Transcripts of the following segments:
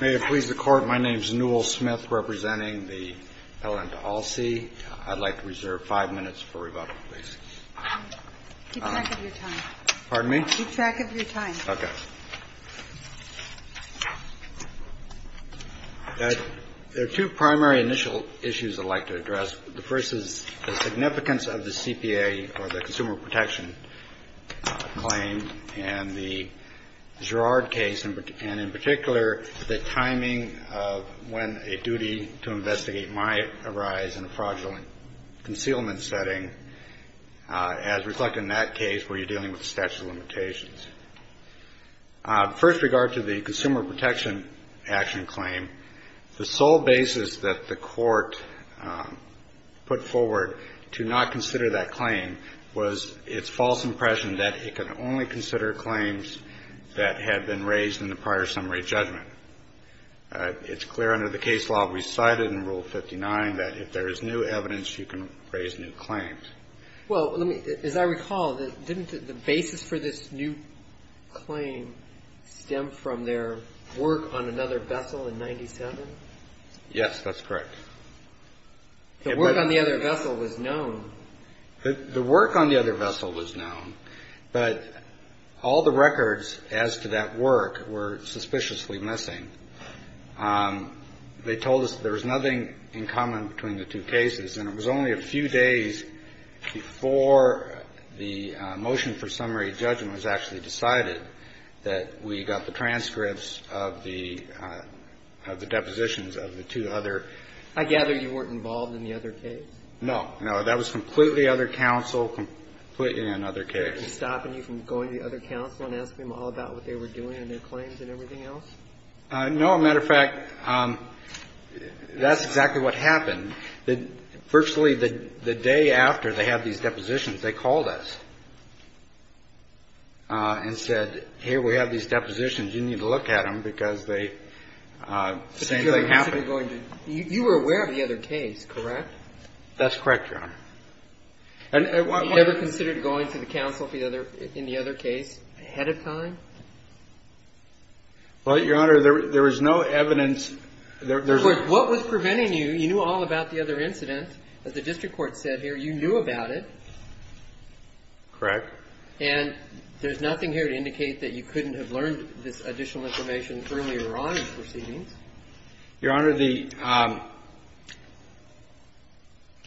May it please the Court, my name is Newell Smith, representing the LN to ALSEA. I'd like to reserve five minutes for rebuttal, please. Keep track of your time. Pardon me? Keep track of your time. Okay. There are two primary initial issues I'd like to address. The first is the significance of the CPA, or the Consumer Protection. Claim, and the Girard case, and in particular, the timing of when a duty to investigate might arise in a fraudulent concealment setting, as reflected in that case where you're dealing with statute of limitations. First regard to the Consumer Protection Action Claim, the sole basis that the Court put forward to not consider that claim was its false impression that it could only consider claims that had been raised in the prior summary judgment. It's clear under the case law we cited in Rule 59 that if there is new evidence, you can raise new claims. Well, as I recall, didn't the basis for this new claim stem from their work on another vessel in 97? Yes, that's correct. The work on the other vessel was known. The work on the other vessel was known, but all the records as to that work were suspiciously missing. They told us there was nothing in common between the two cases, and it was only a few days before the motion for summary judgment was actually decided that we got the transcripts of the depositions of the two other. I gather you weren't involved in the other case? No. No. That was completely other counsel, completely another case. They were stopping you from going to the other counsel and asking them all about what they were doing and their claims and everything else? No. As a matter of fact, that's exactly what happened. Virtually the day after they had these depositions, they called us and said, here, we have these depositions. You need to look at them, because they same thing happened. You were aware of the other case, correct? That's correct, Your Honor. Have you ever considered going to the counsel in the other case ahead of time? Well, Your Honor, there was no evidence. Of course, what was preventing you? You knew all about the other incident. As the district court said here, you knew about it. Correct. And there's nothing here to indicate that you couldn't have learned this additional information earlier on in proceedings. Your Honor, the —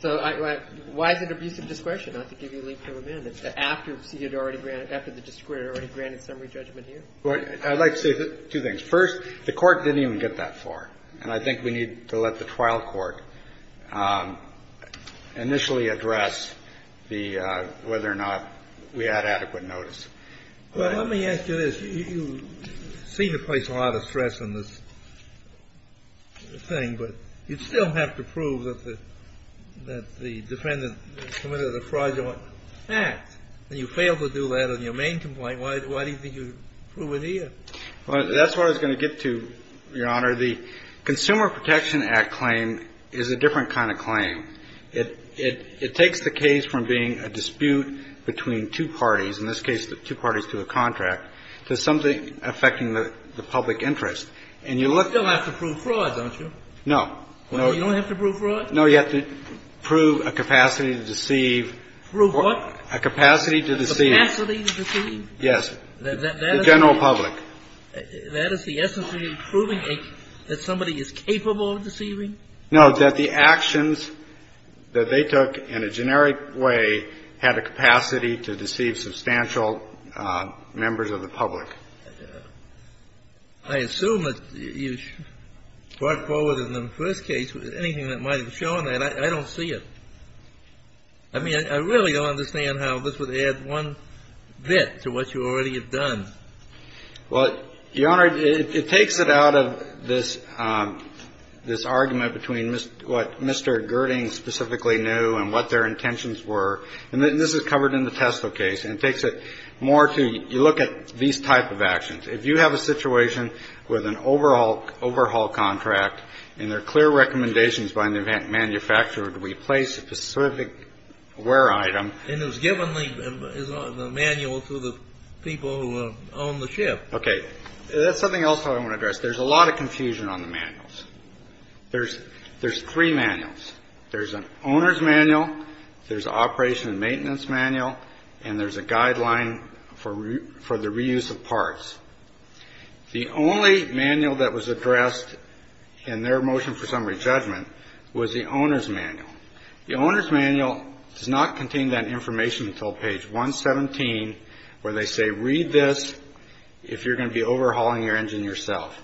So why is it abuse of discretion? I have to give you a leap to amend it. After the district court had already granted summary judgment here? I'd like to say two things. First, the Court didn't even get that far. And I think we need to let the trial court initially address the — whether or not we had adequate notice. Well, let me ask you this. You seem to place a lot of stress on this thing, but you'd still have to prove that the defendant committed a fraudulent act. And you failed to do that on your main complaint. Why do you think you prove it here? Well, that's where I was going to get to, Your Honor. It takes the case from being a dispute between two parties, in this case the two parties to a contract, to something affecting the public interest. And you look — You still have to prove fraud, don't you? No. You don't have to prove fraud? No. You have to prove a capacity to deceive. Prove what? A capacity to deceive. A capacity to deceive? Yes. The general public. That is the essence of proving that somebody is capable of deceiving? No, that the actions that they took in a generic way had a capacity to deceive substantial members of the public. I assume that you brought forward in the first case anything that might have shown that. I don't see it. I mean, I really don't understand how this would add one bit to what you already have done. Well, Your Honor, it takes it out of this argument between what Mr. Girding specifically knew and what their intentions were. And this is covered in the TESLA case. And it takes it more to — you look at these type of actions. If you have a situation with an overhaul contract and there are clear recommendations by the manufacturer to replace a specific ware item — Okay. That's something else I want to address. There's a lot of confusion on the manuals. There's three manuals. There's an owner's manual. There's an operation and maintenance manual. And there's a guideline for the reuse of parts. The only manual that was addressed in their motion for summary judgment was the owner's manual. The owner's manual does not contain that information until page 117, where they say, read this if you're going to be overhauling your engine yourself.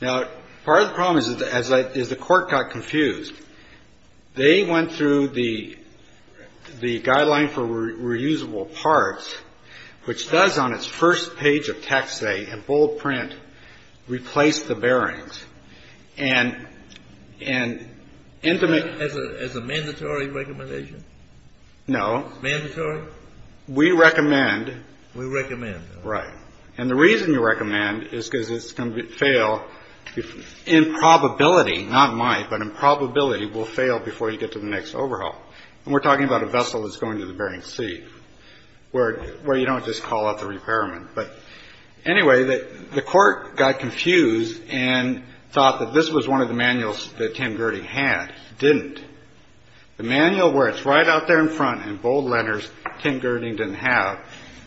Now, part of the problem is the court got confused. They went through the guideline for reusable parts, which does, on its first page of text, say, in bold print, replace the bearings. And — As a mandatory recommendation? No. Mandatory? We recommend — We recommend. Right. And the reason you recommend is because it's going to fail in probability — not might, but in probability will fail before you get to the next overhaul. And we're talking about a vessel that's going to the Bering Sea, where you don't just call out the repairman. But anyway, the court got confused and thought that this was one of the manuals that Tim Gerding had. It didn't. The manual where it's right out there in front in bold letters, Tim Gerding didn't have.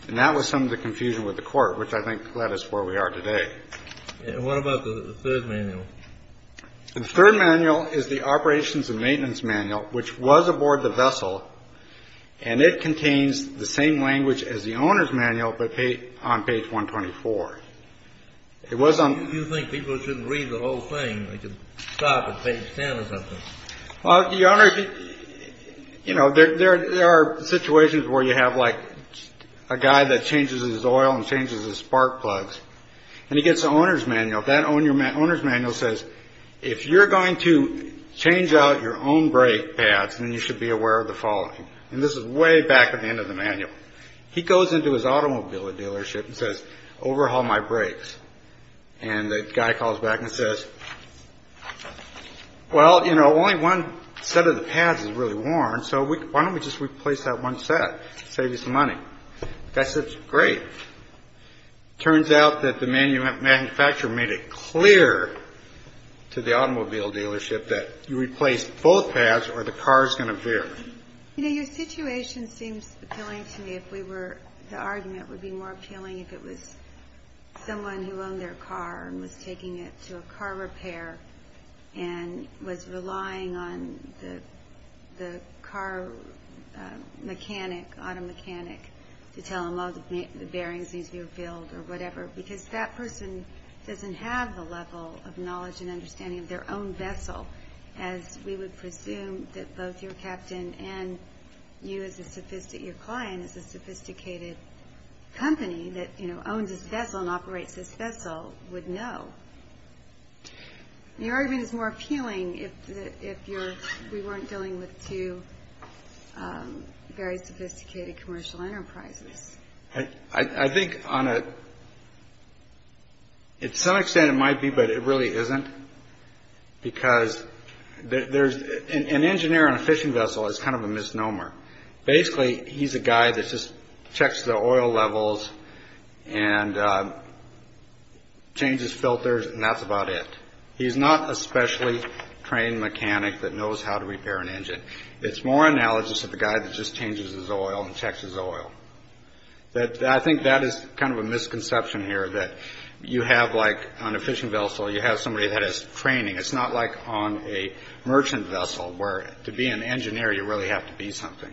And that was some of the confusion with the court, which I think led us where we are today. And what about the third manual? The third manual is the operations and maintenance manual, which was aboard the vessel. And it contains the same language as the owner's manual, but on page 124. It wasn't — You think people shouldn't read the whole thing. They should stop at page 10 or something. Well, Your Honor, you know, there are situations where you have, like, a guy that changes his oil and changes his spark plugs, and he gets the owner's manual. That owner's manual says, if you're going to change out your own brake pads, then you should be aware of the following. And this is way back at the end of the manual. He goes into his automobile dealership and says, overhaul my brakes. And the guy calls back and says, well, you know, only one set of the pads is really worn, so why don't we just replace that one set? Save you some money. The guy says, great. Turns out that the manufacturer made it clear to the automobile dealership that you replace both pads or the car's going to bear. You know, your situation seems appealing to me if we were — the argument would be more appealing if it was someone who owned their car and was taking it to a car repair and was relying on the car mechanic, auto mechanic, to tell him, well, the bearings need to be refilled or whatever, because that person doesn't have the level of knowledge and understanding of their own vessel, as we would presume that both your captain and you as a — your client as a sophisticated company that, you know, owns this vessel and operates this vessel would know. The argument is more appealing if you're — if we weren't dealing with two very sophisticated commercial enterprises. I think on a — to some extent it might be, but it really isn't, because there's — an engineer on a fishing vessel is kind of a misnomer. Basically, he's a guy that just checks the oil levels and changes filters, and that's about it. He's not a specially trained mechanic that knows how to repair an engine. It's more analogous to the guy that just changes his oil and checks his oil. I think that is kind of a misconception here, that you have, like, on a fishing vessel, you have somebody that has training. It's not like on a merchant vessel, where to be an engineer, you really have to be something.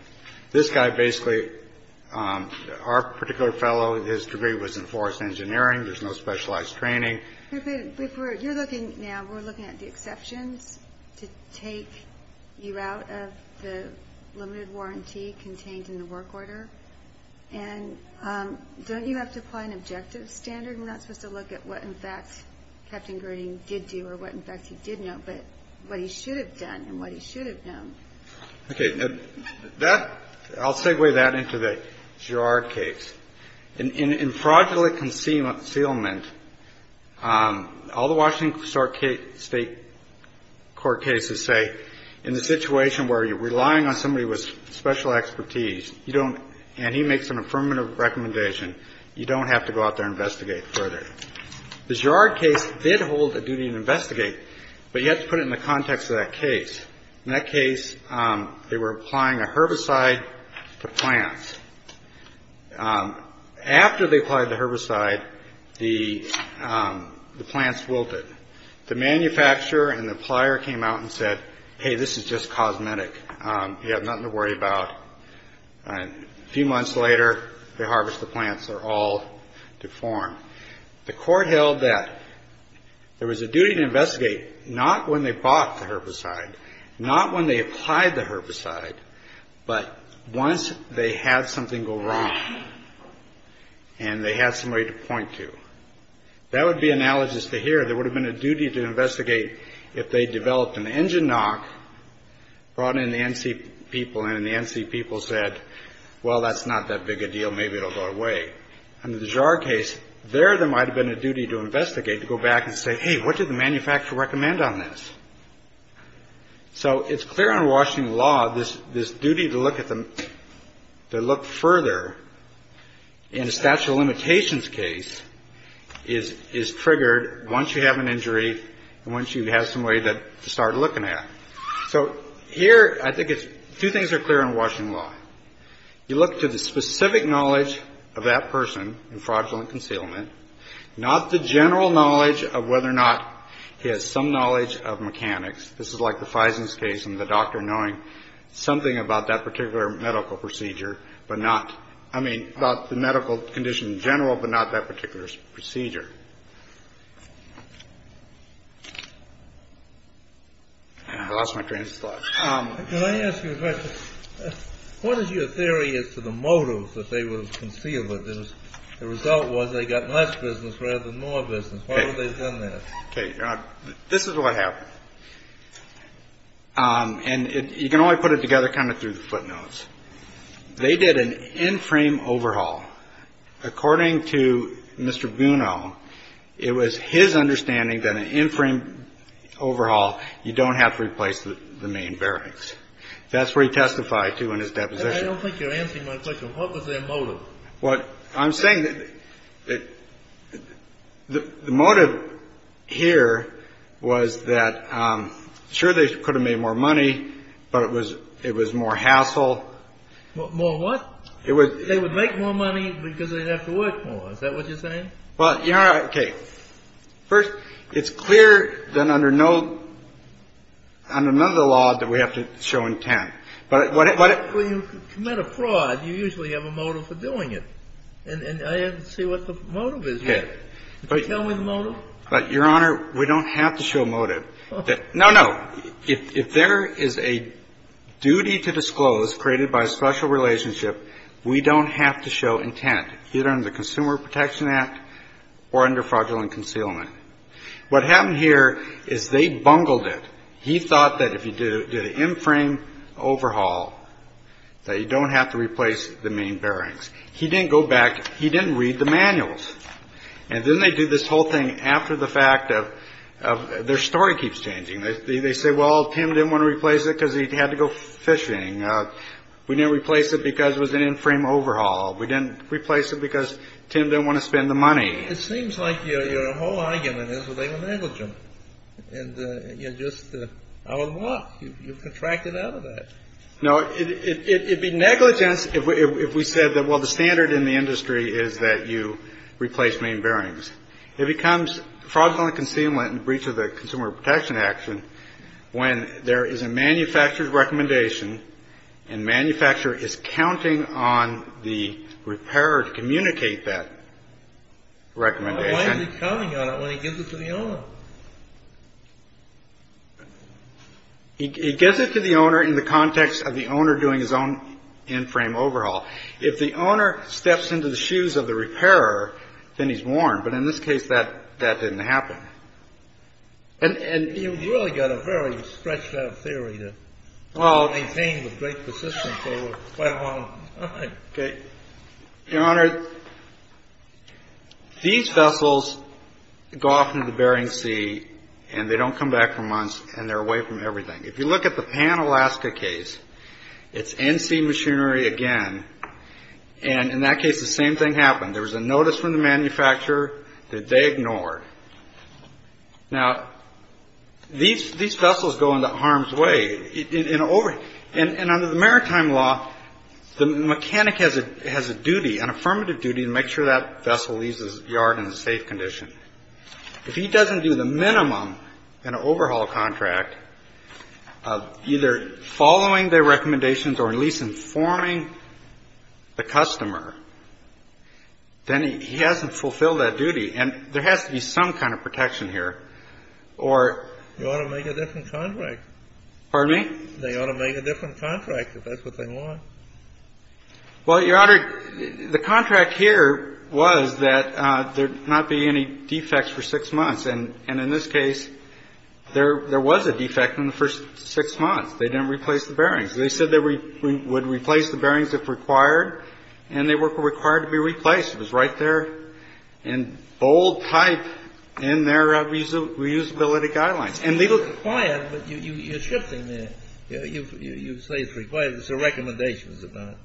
This guy basically — our particular fellow, his degree was in forest engineering. There's no specialized training. You're looking — now, we're looking at the exceptions to take you out of the limited warranty contained in the work order. And don't you have to apply an objective standard? We're not supposed to look at what, in fact, Captain Groening did do or what, in fact, he did know, but what he should have done and what he should have known. Okay. That — I'll segue that into the Girard case. In fraudulent concealment, all the Washington State court cases say, in the situation where you're relying on somebody with special expertise, you don't — The Girard case did hold a duty to investigate, but you have to put it in the context of that case. In that case, they were applying a herbicide to plants. After they applied the herbicide, the plants wilted. The manufacturer and the plier came out and said, hey, this is just cosmetic. You have nothing to worry about. A few months later, they harvest the plants. They're all deformed. The court held that there was a duty to investigate not when they bought the herbicide, not when they applied the herbicide, but once they had something go wrong and they had somebody to point to. That would be analogous to here. There would have been a duty to investigate if they developed an engine knock, brought in the NC people, and the NC people said, well, that's not that big a deal. Maybe it'll go away. Under the Girard case, there, there might have been a duty to investigate, to go back and say, hey, what did the manufacturer recommend on this? So it's clear under Washington law, this duty to look at the — to look further. And a statute of limitations case is triggered once you have an injury and once you have somebody to start looking at. So here, I think it's — two things are clear in Washington law. You look to the specific knowledge of that person in fraudulent concealment, not the general knowledge of whether or not he has some knowledge of mechanics. This is like the Fison's case and the doctor knowing something about that particular medical procedure, but not — I mean, about the medical condition in general, but not that particular procedure. I lost my train of thought. Can I ask you a question? What is your theory as to the motives that they would have concealed it? The result was they got less business rather than more business. Why would they have done that? This is what happened. And you can only put it together kind of through the footnotes. They did an in-frame overhaul. According to Mr. Bruno, it was his understanding that an in-frame overhaul, you don't have to replace the main bearings. That's what he testified to in his deposition. I don't think you're answering my question. What was their motive? Well, I'm saying that the motive here was that, sure, they could have made more money, but it was more hassle. More what? They would make more money because they'd have to work more. Is that what you're saying? Well, okay. First, it's clear that under none of the law that we have to show intent. Well, you commit a fraud, you usually have a motive for doing it. And I didn't see what the motive is yet. Can you tell me the motive? Your Honor, we don't have to show motive. No, no. If there is a duty to disclose created by a special relationship, we don't have to show intent, either under the Consumer Protection Act or under fraudulent concealment. What happened here is they bungled it. He thought that if you did an in-frame overhaul that you don't have to replace the main bearings. He didn't go back. He didn't read the manuals. And then they did this whole thing after the fact of their story keeps changing. They say, well, Tim didn't want to replace it because he had to go fishing. We didn't replace it because it was an in-frame overhaul. We didn't replace it because Tim didn't want to spend the money. It seems like your whole argument is that they were negligent. And you're just out of luck. You've contracted out of that. No. It would be negligence if we said that, well, the standard in the industry is that you replace main bearings. It becomes fraudulent concealment in breach of the Consumer Protection Act when there is a manufacturer's recommendation and manufacturer is counting on the repairer to communicate that recommendation. Why is he counting on it when he gives it to the owner? He gives it to the owner in the context of the owner doing his own in-frame overhaul. If the owner steps into the shoes of the repairer, then he's warned. But in this case, that didn't happen. And you've really got a very stretched out theory to maintain the great persistence over quite a long time. Okay. Your Honor, these vessels go off into the Bering Sea, and they don't come back for months, and they're away from everything. If you look at the Pan-Alaska case, it's NC Machinery again. And in that case, the same thing happened. There was a notice from the manufacturer that they ignored. Now, these vessels go into harm's way. And under the maritime law, the mechanic has a duty, an affirmative duty, to make sure that vessel leaves the yard in a safe condition. If he doesn't do the minimum in an overhaul contract of either following their recommendations or at least informing the customer, then he hasn't fulfilled that duty. And there has to be some kind of protection here. Or you ought to make a different contract. Pardon me? They ought to make a different contract if that's what they want. Well, Your Honor, the contract here was that there not be any defects for six months. And in this case, there was a defect in the first six months. They didn't replace the bearings. They said they would replace the bearings if required, and they were required to be replaced. It was right there in bold type in their reusability guidelines. But you're shifting there. You say it's required. It's a recommendation, is it not?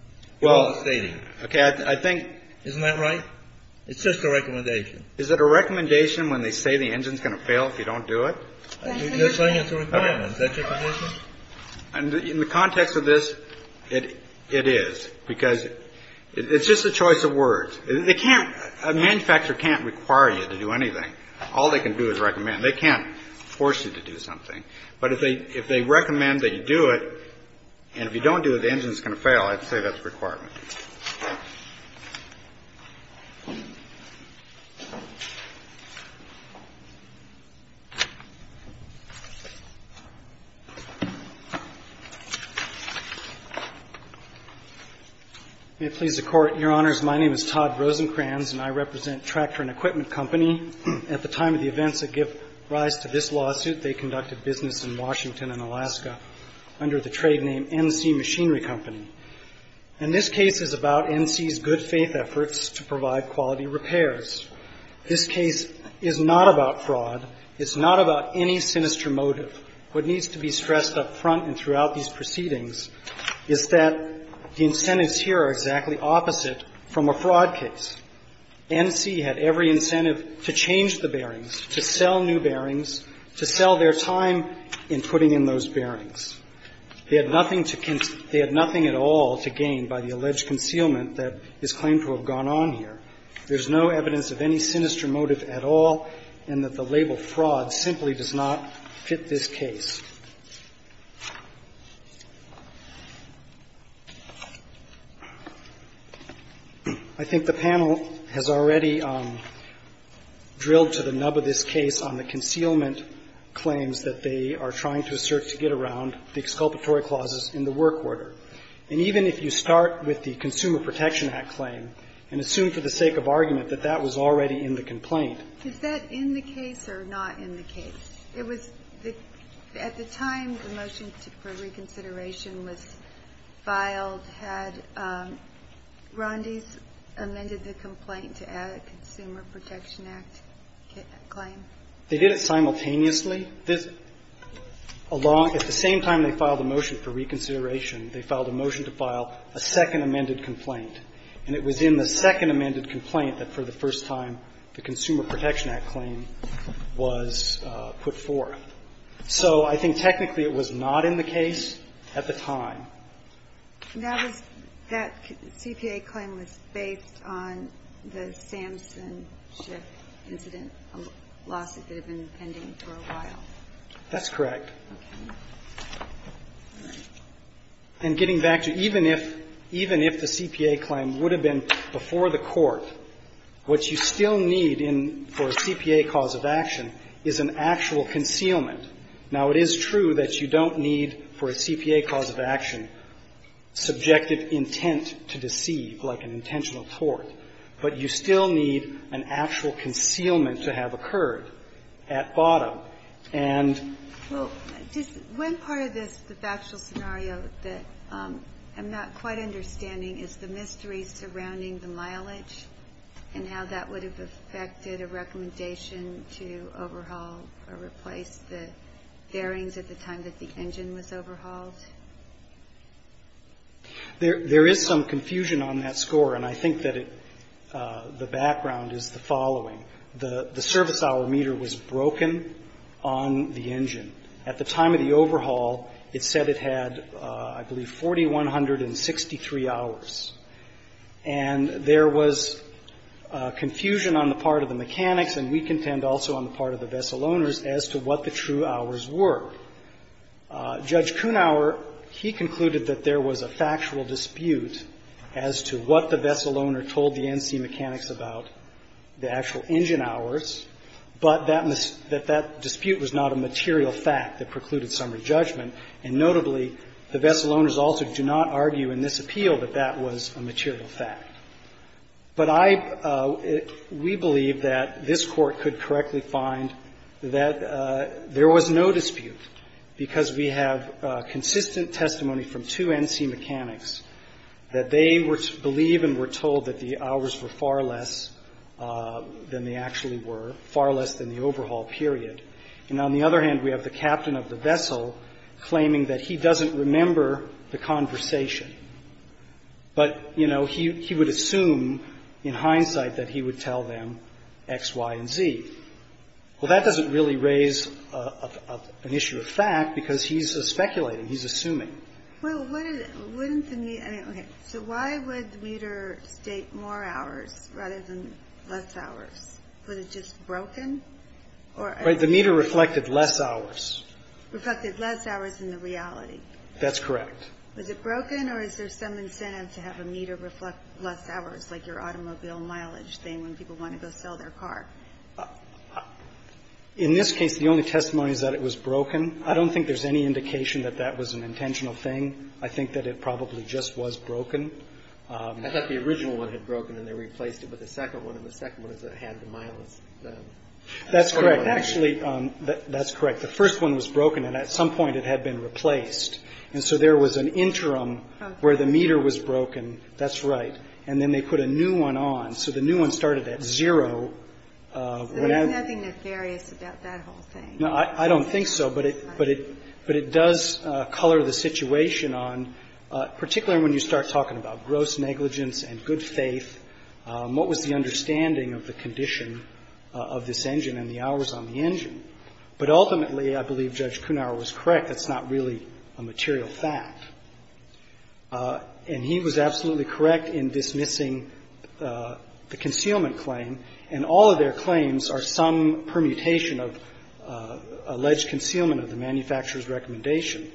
Well, I think. Isn't that right? It's just a recommendation. Is it a recommendation when they say the engine's going to fail if you don't do it? They're saying it's a requirement. Is that your condition? In the context of this, it is, because it's just a choice of words. They can't. A manufacturer can't require you to do anything. All they can do is recommend. They can't force you to do something. But if they recommend that you do it, and if you don't do it, the engine's going to fail, I'd say that's a requirement. May it please the Court. Your Honors, my name is Todd Rosenkranz, and I represent Tractor and Equipment Company. At the time of the events that give rise to this lawsuit, they conducted business in Washington and Alaska under the trade name NC Machinery Company. And this case is about NC's good-faith efforts to provide quality repairs. This case is not about fraud. It's not about any sinister motive. What needs to be stressed up front and throughout these proceedings is that the incentives here are exactly opposite from a fraud case. NC had every incentive to change the bearings, to sell new bearings, to sell their time in putting in those bearings. They had nothing to conceal. They had nothing at all to gain by the alleged concealment that is claimed to have gone on here. There's no evidence of any sinister motive at all, and that the label fraud simply does not fit this case. I think the panel has already drilled to the nub of this case on the concealment claims that they are trying to assert to get around, the exculpatory clauses in the work order. And even if you start with the Consumer Protection Act claim and assume for the sake of argument that that was already in the complaint. Is that in the case or not in the case? At the time the motion for reconsideration was filed, had Rondes amended the complaint to add a Consumer Protection Act claim? They did it simultaneously. At the same time they filed a motion for reconsideration, they filed a motion to file a second amended complaint. And it was in the second amended complaint that for the first time the Consumer Protection Act was put forth. So I think technically it was not in the case at the time. And that was, that CPA claim was based on the Samson Schiff incident, a lawsuit that had been pending for a while. That's correct. Okay. All right. And getting back to even if, even if the CPA claim would have been before the Court, what you still need in, for a CPA cause of action is an actual concealment. Now, it is true that you don't need for a CPA cause of action subjective intent to deceive like an intentional tort, but you still need an actual concealment to have occurred at bottom. And just one part of this, the factual scenario that I'm not quite understanding is the mystery surrounding the mileage and how that would have affected a recommendation to overhaul or replace the bearings at the time that the engine was overhauled. There is some confusion on that score, and I think that it, the background is the following. At the time of the overhaul, it said it had, I believe, 4,163 hours. And there was confusion on the part of the mechanics, and we contend also on the part of the vessel owners, as to what the true hours were. Judge Kunauer, he concluded that there was a factual dispute as to what the vessel owner told the NC mechanics about the actual engine hours, but that dispute was not a material fact that precluded summary judgment, and notably, the vessel owners also do not argue in this appeal that that was a material fact. But I, we believe that this Court could correctly find that there was no dispute, because we have consistent testimony from two NC mechanics that they believe and were told that the hours were far less than they actually were, far less than the overhaul period. And on the other hand, we have the captain of the vessel claiming that he doesn't remember the conversation. But, you know, he would assume, in hindsight, that he would tell them X, Y, and Z. Well, that doesn't really raise an issue of fact, because he's speculating. He's assuming. Well, wouldn't the meter, I mean, okay, so why would the meter state more hours rather than less hours? Was it just broken? Right. The meter reflected less hours. Reflected less hours in the reality. That's correct. Was it broken, or is there some incentive to have a meter reflect less hours, like your automobile mileage thing when people want to go sell their car? In this case, the only testimony is that it was broken. I don't think there's any indication that that was an intentional thing. I think that it probably just was broken. I thought the original one had broken, and they replaced it with a second one, and the second one had the mileage. That's correct. Actually, that's correct. The first one was broken, and at some point it had been replaced. And so there was an interim where the meter was broken. That's right. And then they put a new one on. So the new one started at zero. So there's nothing nefarious about that whole thing? No, I don't think so. But it does color the situation on, particularly when you start talking about gross negligence and good faith. What was the understanding of the condition of this engine and the hours on the engine? But ultimately, I believe Judge Kunauer was correct. That's not really a material fact. And he was absolutely correct in dismissing the concealment claim. And all of their claims are some permutation of alleged concealment of the manufacturer's recommendation.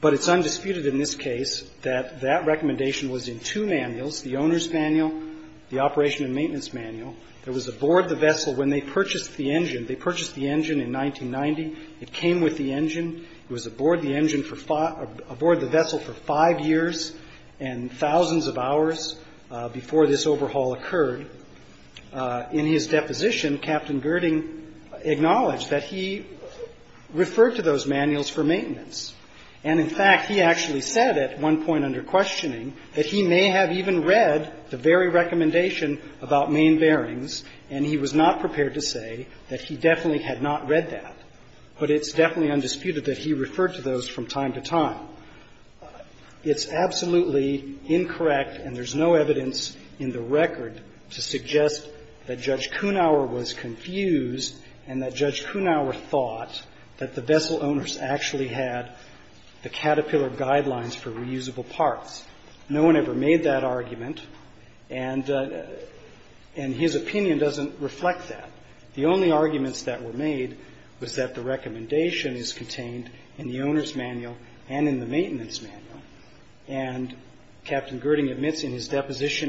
But it's undisputed in this case that that recommendation was in two manuals, the owner's manual, the operation and maintenance manual. It was aboard the vessel when they purchased the engine. They purchased the engine in 1990. It came with the engine. It was aboard the engine for five or aboard the vessel for five years and thousands of hours before this overhaul occurred. In his deposition, Captain Girding acknowledged that he referred to those manuals for maintenance. And in fact, he actually said at one point under questioning that he may have even read the very recommendation about main bearings, and he was not prepared to say that he definitely had not read that. But it's definitely undisputed that he referred to those from time to time. It's absolutely incorrect, and there's no evidence in the record to suggest that Judge Girding did not refer to those manuals. He did not refer to the Caterpillar guidelines for reusable parts. No one ever made that argument, and his opinion doesn't reflect that. The only arguments that were made was that the recommendation is contained in the owner's manual and in the maintenance manual, and Captain Girding admits in his case,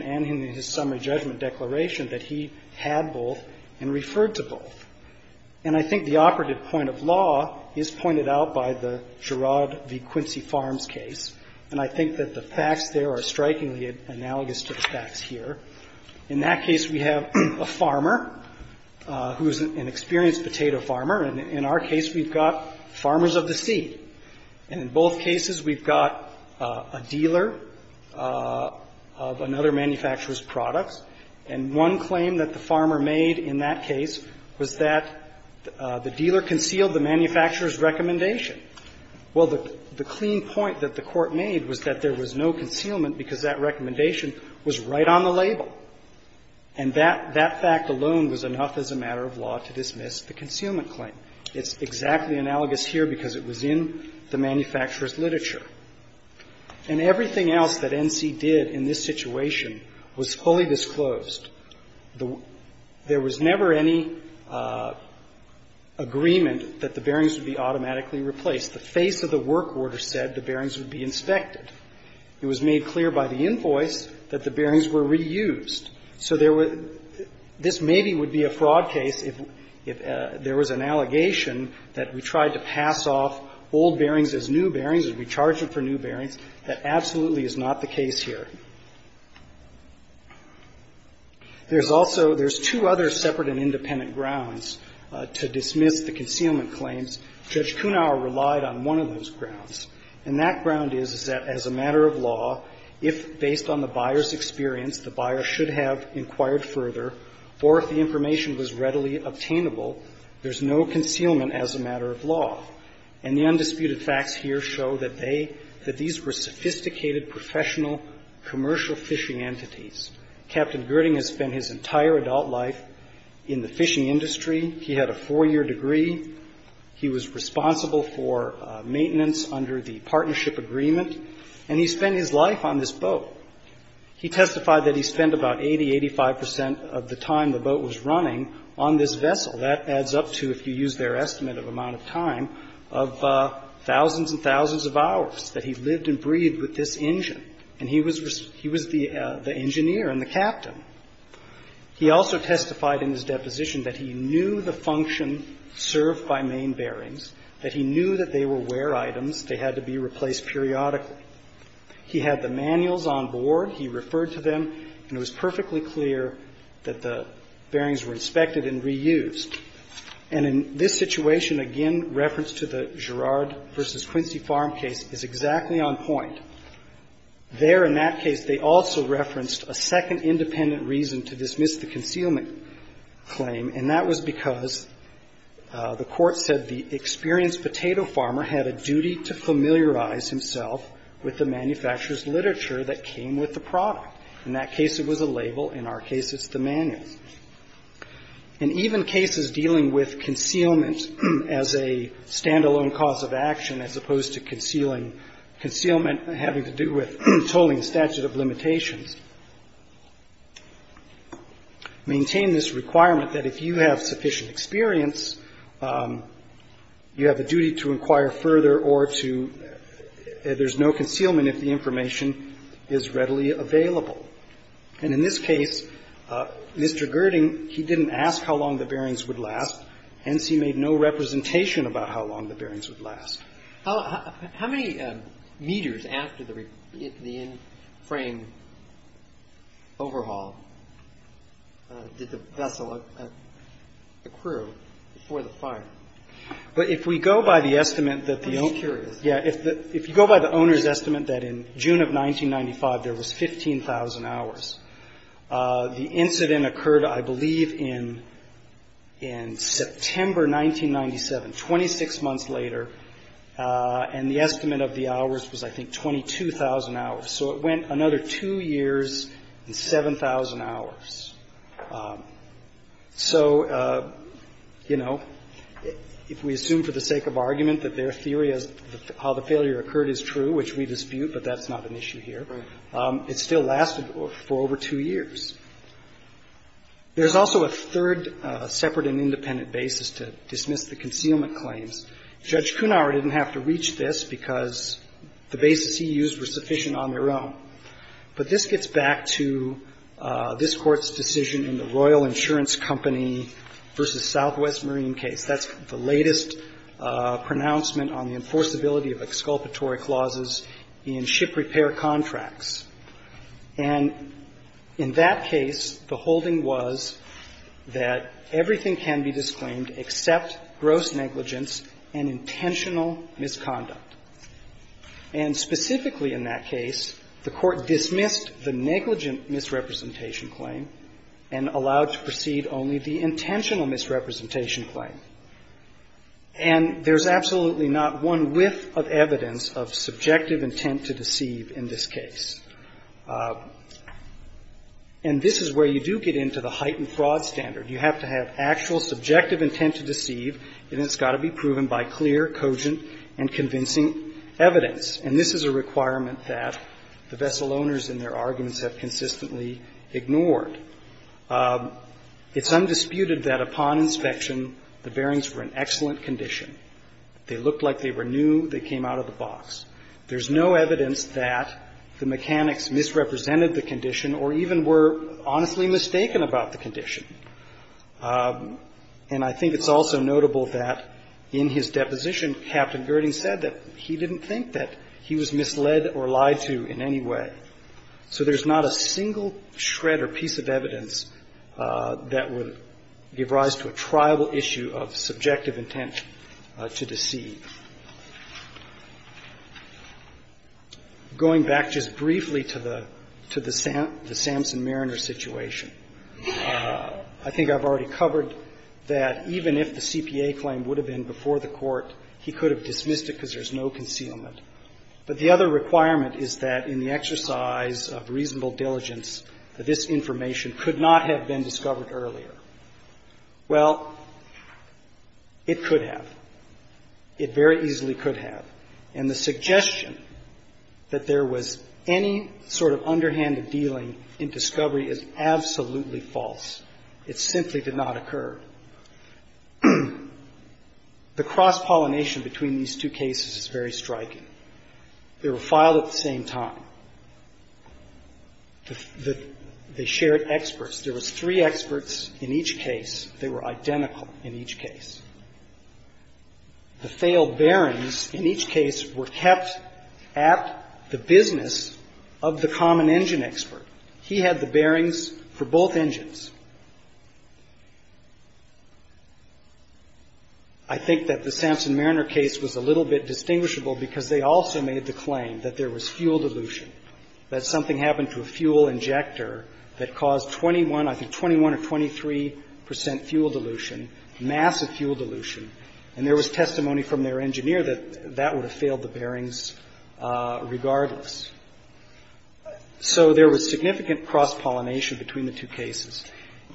and I think that the facts there are strikingly analogous to the facts here. In that case, we have a farmer who is an experienced potato farmer. And in our case, we've got farmers of the sea. And in both cases, we've got a dealer of another manufacturer's products. And one claim that the farmer made in that case was that the dealer concealed the manufacturer's recommendation. Well, the clean point that the Court made was that there was no concealment because that recommendation was right on the label. And that fact alone was enough as a matter of law to dismiss the concealment claim. It's exactly analogous here because it was in the manufacturer's literature. And everything else that NC did in this situation was fully disclosed. There was never any agreement that the bearings would be automatically replaced. The face of the work order said the bearings would be inspected. It was made clear by the invoice that the bearings were reused. So there was this maybe would be a fraud case if there was an allegation that we tried to pass off old bearings as new bearings, that we charged them for new bearings. That absolutely is not the case here. There's also – there's two other separate and independent grounds to dismiss the concealment claims. Judge Kunauer relied on one of those grounds. And that ground is that as a matter of law, if based on the buyer's experience, the buyer should have inquired further, or if the information was readily obtainable, there's no concealment as a matter of law. And the undisputed facts here show that they – that these were sophisticated, professional, commercial fishing entities. Captain Girding has spent his entire adult life in the fishing industry. He had a four-year degree. He was responsible for maintenance under the partnership agreement. And he spent his life on this boat. He testified that he spent about 80, 85 percent of the time the boat was running on this vessel. That adds up to, if you use their estimate of amount of time, of thousands and thousands of hours that he lived and breathed with this engine. And he was the engineer and the captain. He also testified in his deposition that he knew the function served by main bearings, that he knew that they were wear items. They had to be replaced periodically. He had the manuals on board. He referred to them. And it was perfectly clear that the bearings were inspected and reused. And in this situation, again, reference to the Girard v. Quincy Farm case is exactly on point. There in that case, they also referenced a second independent reason to dismiss the concealment claim. And that was because the Court said the experienced potato farmer had a duty to familiarize himself with the manufacturer's literature that came with the product. In that case, it was a label. In our case, it's the manuals. And even cases dealing with concealment as a standalone cause of action, as opposed to concealing concealment having to do with tolling statute of limitations, maintain this requirement that if you have sufficient experience, you have a duty to And in this case, Mr. Girding, he didn't ask how long the bearings would last. Hence, he made no representation about how long the bearings would last. How many meters after the in-frame overhaul did the vessel accrue before the fire? But if we go by the estimate that the owner's estimate that in June of 1995, there was 15,000 hours, the incident occurred, I believe, in September 1997, 26 months later, and the estimate of the hours was, I think, 22,000 hours. So it went another two years and 7,000 hours. So, you know, if we assume for the sake of argument that their theory of how the failure occurred is true, which we dispute, but that's not an issue here. It still lasted for over two years. There's also a third separate and independent basis to dismiss the concealment claims. Judge Cunar didn't have to reach this because the basis he used was sufficient on their own. But this gets back to this Court's decision in the Royal Insurance Company v. Southwest Marine case. That's the latest pronouncement on the enforceability of exculpatory clauses in ship repair contracts. And in that case, the holding was that everything can be disclaimed except gross negligence and intentional misconduct. And specifically in that case, the Court dismissed the negligent misrepresentation claim and allowed to proceed only the intentional misrepresentation claim. And there's absolutely not one whiff of evidence of subjective intent to deceive in this case. And this is where you do get into the heightened fraud standard. You have to have actual subjective intent to deceive, and it's got to be proven by clear, cogent, and convincing evidence. And this is a requirement that the vessel owners in their arguments have consistently ignored. It's undisputed that upon inspection, the bearings were in excellent condition. They looked like they were new. They came out of the box. There's no evidence that the mechanics misrepresented the condition or even were honestly mistaken about the condition. And I think it's also notable that in his deposition, Captain Girding said that he didn't think that he was misled or lied to in any way. So there's not a single shred or piece of evidence that would give rise to a triable issue of subjective intent to deceive. Going back just briefly to the Samson-Mariner situation, I think I've already covered that even if the CPA claim would have been before the Court, he could have dismissed it because there's no concealment. But the other requirement is that in the exercise of reasonable diligence, that this information could not have been discovered earlier. Well, it could have. It very easily could have. And the suggestion that there was any sort of underhanded dealing in discovery is absolutely false. It simply did not occur. The cross-pollination between these two cases is very striking. They were filed at the same time. They shared experts. There was three experts in each case. They were identical in each case. The failed bearings in each case were kept at the business of the common engine expert. He had the bearings for both engines. I think that the Samson-Mariner case was a little bit distinguishable because they also made the claim that there was fuel dilution, that something happened to a fuel injector that caused 21, I think, 21 or 23 percent fuel dilution, massive fuel dilution, and there was testimony from their engineer that that would have failed the bearings regardless. So there was significant cross-pollination between the two cases.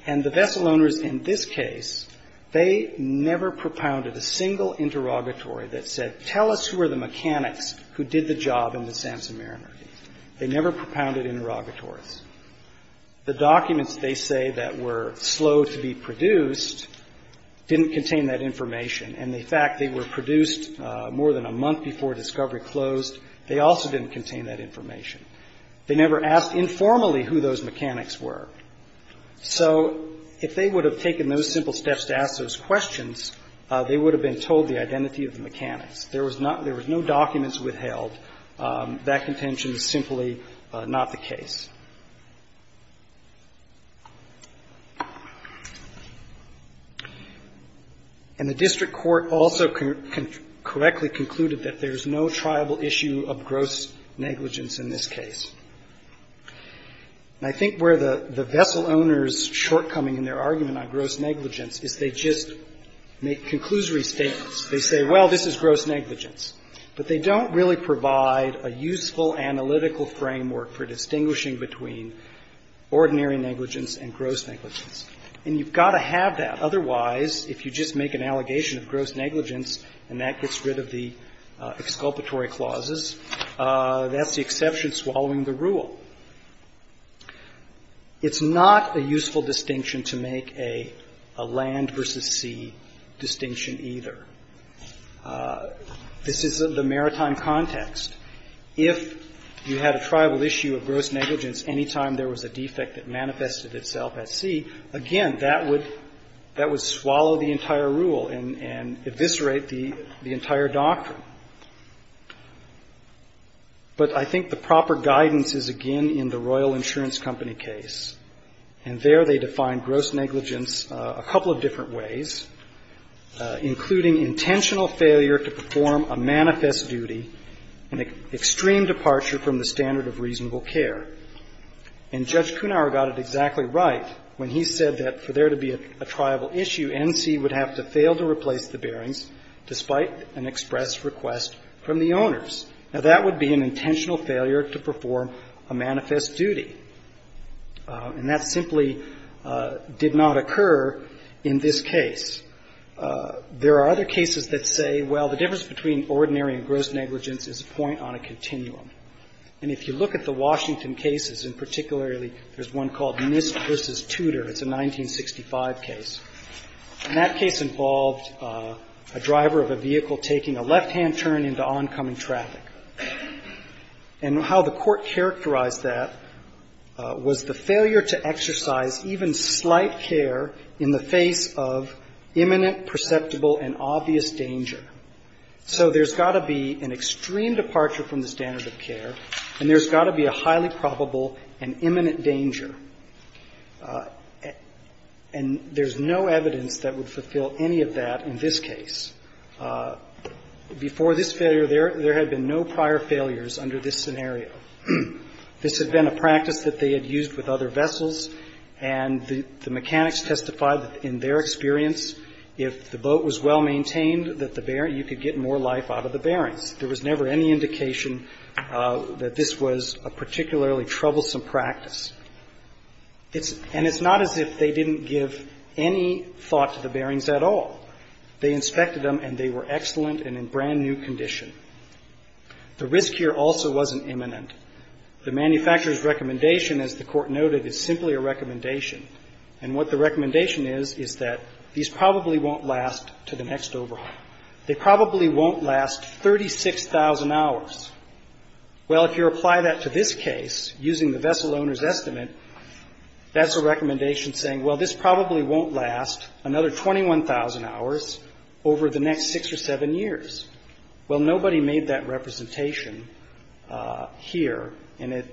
And the vessel owners in this case, they never propounded a single interrogatory that said, tell us who were the mechanics who did the job in the Samson-Mariner case. They never propounded interrogatories. The documents they say that were slow to be produced didn't contain that information. And the fact they were produced more than a month before discovery closed, they also didn't contain that information. They never asked informally who those mechanics were. So if they would have taken those simple steps to ask those questions, they would have been told the identity of the mechanics. There was no documents withheld. That contention is simply not the case. And the district court also correctly concluded that there is no tribal issue of gross negligence in this case. And I think where the vessel owners' shortcoming in their argument on gross negligence is they just make conclusory statements. They say, well, this is gross negligence. But they don't really provide a useful analytical framework for distinguishing between ordinary negligence and gross negligence. And you've got to have that. Otherwise, if you just make an allegation of gross negligence and that gets rid of the That's the exception swallowing the rule. It's not a useful distinction to make a land versus sea distinction either. This is the maritime context. If you had a tribal issue of gross negligence any time there was a defect that manifested itself at sea, again, that would swallow the entire rule and eviscerate the entire doctrine. But I think the proper guidance is, again, in the Royal Insurance Company case. And there they define gross negligence a couple of different ways, including intentional failure to perform a manifest duty and extreme departure from the standard of reasonable care. And Judge Kunauer got it exactly right when he said that for there to be a tribal issue, NC would have to fail to replace the bearings despite an express request from the owners. Now, that would be an intentional failure to perform a manifest duty. And that simply did not occur in this case. There are other cases that say, well, the difference between ordinary and gross negligence is a point on a continuum. And if you look at the Washington cases, and particularly there's one called NIST v. Tudor. It's a 1965 case. And that case involved a driver of a vehicle taking a left-hand turn into oncoming traffic. And how the Court characterized that was the failure to exercise even slight care in the face of imminent, perceptible, and obvious danger. So there's got to be an extreme departure from the standard of care, and there's got to be a highly probable and imminent danger. And there's no evidence that would fulfill any of that in this case. Before this failure, there had been no prior failures under this scenario. This had been a practice that they had used with other vessels, and the mechanics testified that in their experience, if the boat was well maintained, that the bearing you could get more life out of the bearings. There was never any indication that this was a particularly troublesome practice. And it's not as if they didn't give any thought to the bearings at all. They inspected them, and they were excellent and in brand-new condition. The risk here also wasn't imminent. The manufacturer's recommendation, as the Court noted, is simply a recommendation. And what the recommendation is, is that these probably won't last to the next overhaul. They probably won't last 36,000 hours. Well, if you apply that to this case, using the vessel owner's estimate, that's a recommendation saying, well, this probably won't last another 21,000 hours over the next six or seven years. Well, nobody made that representation here, and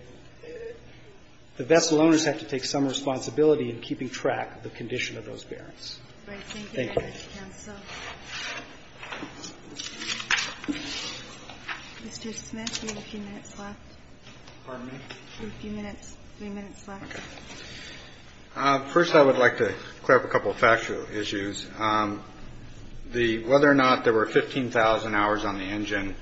the vessel owners have to take some responsibility in keeping track of the condition of those bearings. Thank you. Thank you, Mr. Counsel. Mr. Smith, you have a few minutes left. Pardon me? You have a few minutes, three minutes left. Okay. First, I would like to clear up a couple of factual issues. The whether or not there were 15,000 hours on the engine,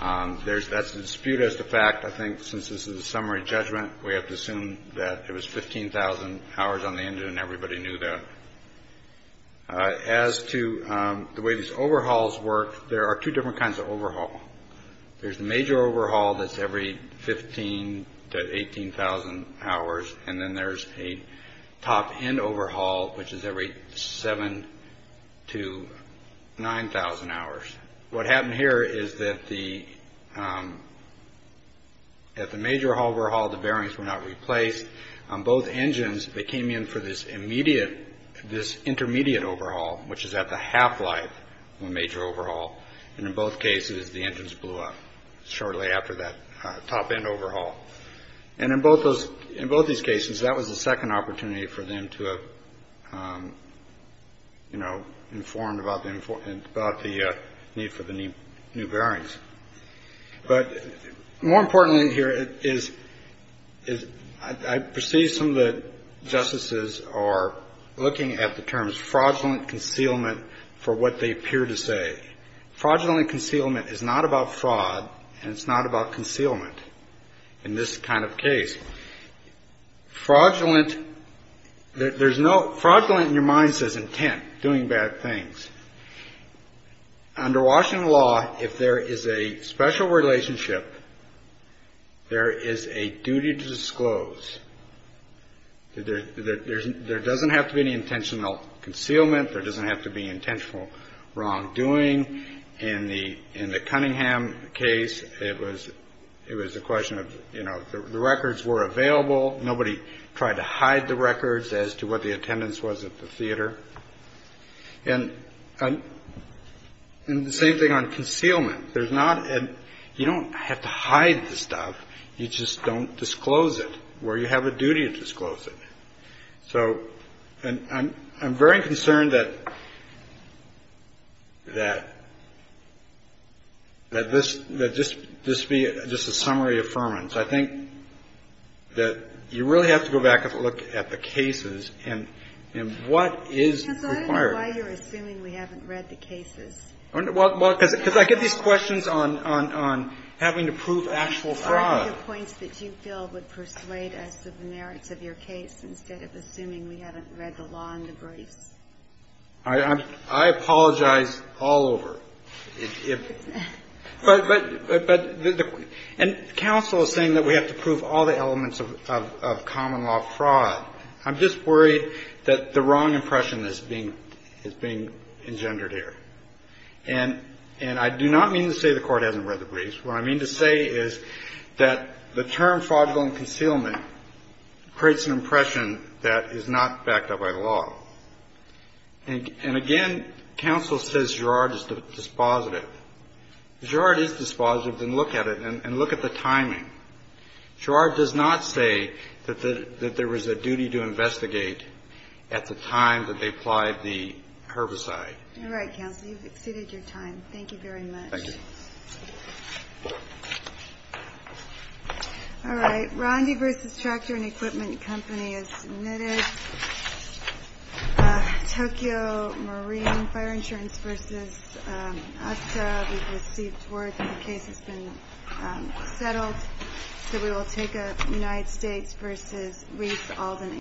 that's disputed as the fact. I think since this is a summary judgment, we have to assume that there was 15,000 hours on the engine, and everybody knew that. As to the way these overhauls work, there are two different kinds of overhaul. There's the major overhaul that's every 15,000 to 18,000 hours, and then there's a top-end overhaul, which is every 7,000 to 9,000 hours. What happened here is that at the major overhaul, the bearings were not replaced. On both engines, they came in for this intermediate overhaul, which is at the half-life of a major overhaul. In both cases, the engines blew up shortly after that top-end overhaul. In both these cases, that was the second opportunity for them to have informed about the need for the new bearings. But more importantly here is I perceive some of the justices are looking at the terms fraudulent concealment for what they appear to say. Fraudulent concealment is not about fraud, and it's not about concealment in this kind of case. Fraudulent in your mind says intent, doing bad things. Under Washington law, if there is a special relationship, there is a duty to disclose. There doesn't have to be any intentional concealment. There doesn't have to be intentional wrongdoing. In the Cunningham case, it was a question of, you know, the records were available. Nobody tried to hide the records as to what the attendance was at the theater. And the same thing on concealment. You don't have to hide the stuff. You just don't disclose it where you have a duty to disclose it. So I'm very concerned that this be just a summary affirmance. I think that you really have to go back and look at the cases and what is required. Because I don't know why you're assuming we haven't read the cases. Well, because I get these questions on having to prove actual fraud. It's part of the points that you feel would persuade us of the merits of your case instead of assuming we haven't read the law and the briefs. I apologize all over. And counsel is saying that we have to prove all the elements of common law fraud. I'm just worried that the wrong impression is being engendered here. And I do not mean to say the Court hasn't read the briefs. What I mean to say is that the term fraudulent concealment creates an impression that is not backed up by the law. And again, counsel says Gerard is dispositive. Gerard is dispositive. Then look at it and look at the timing. Gerard does not say that there was a duty to investigate at the time that they applied the herbicide. All right, counsel. You've exceeded your time. Thank you very much. Thank you. All right. Rondi vs. Tractor and Equipment Company is submitted. Tokyo Marine Fire Insurance vs. USTA. We've received word that the case has been settled. So we will take a United States vs. Reese, Albany.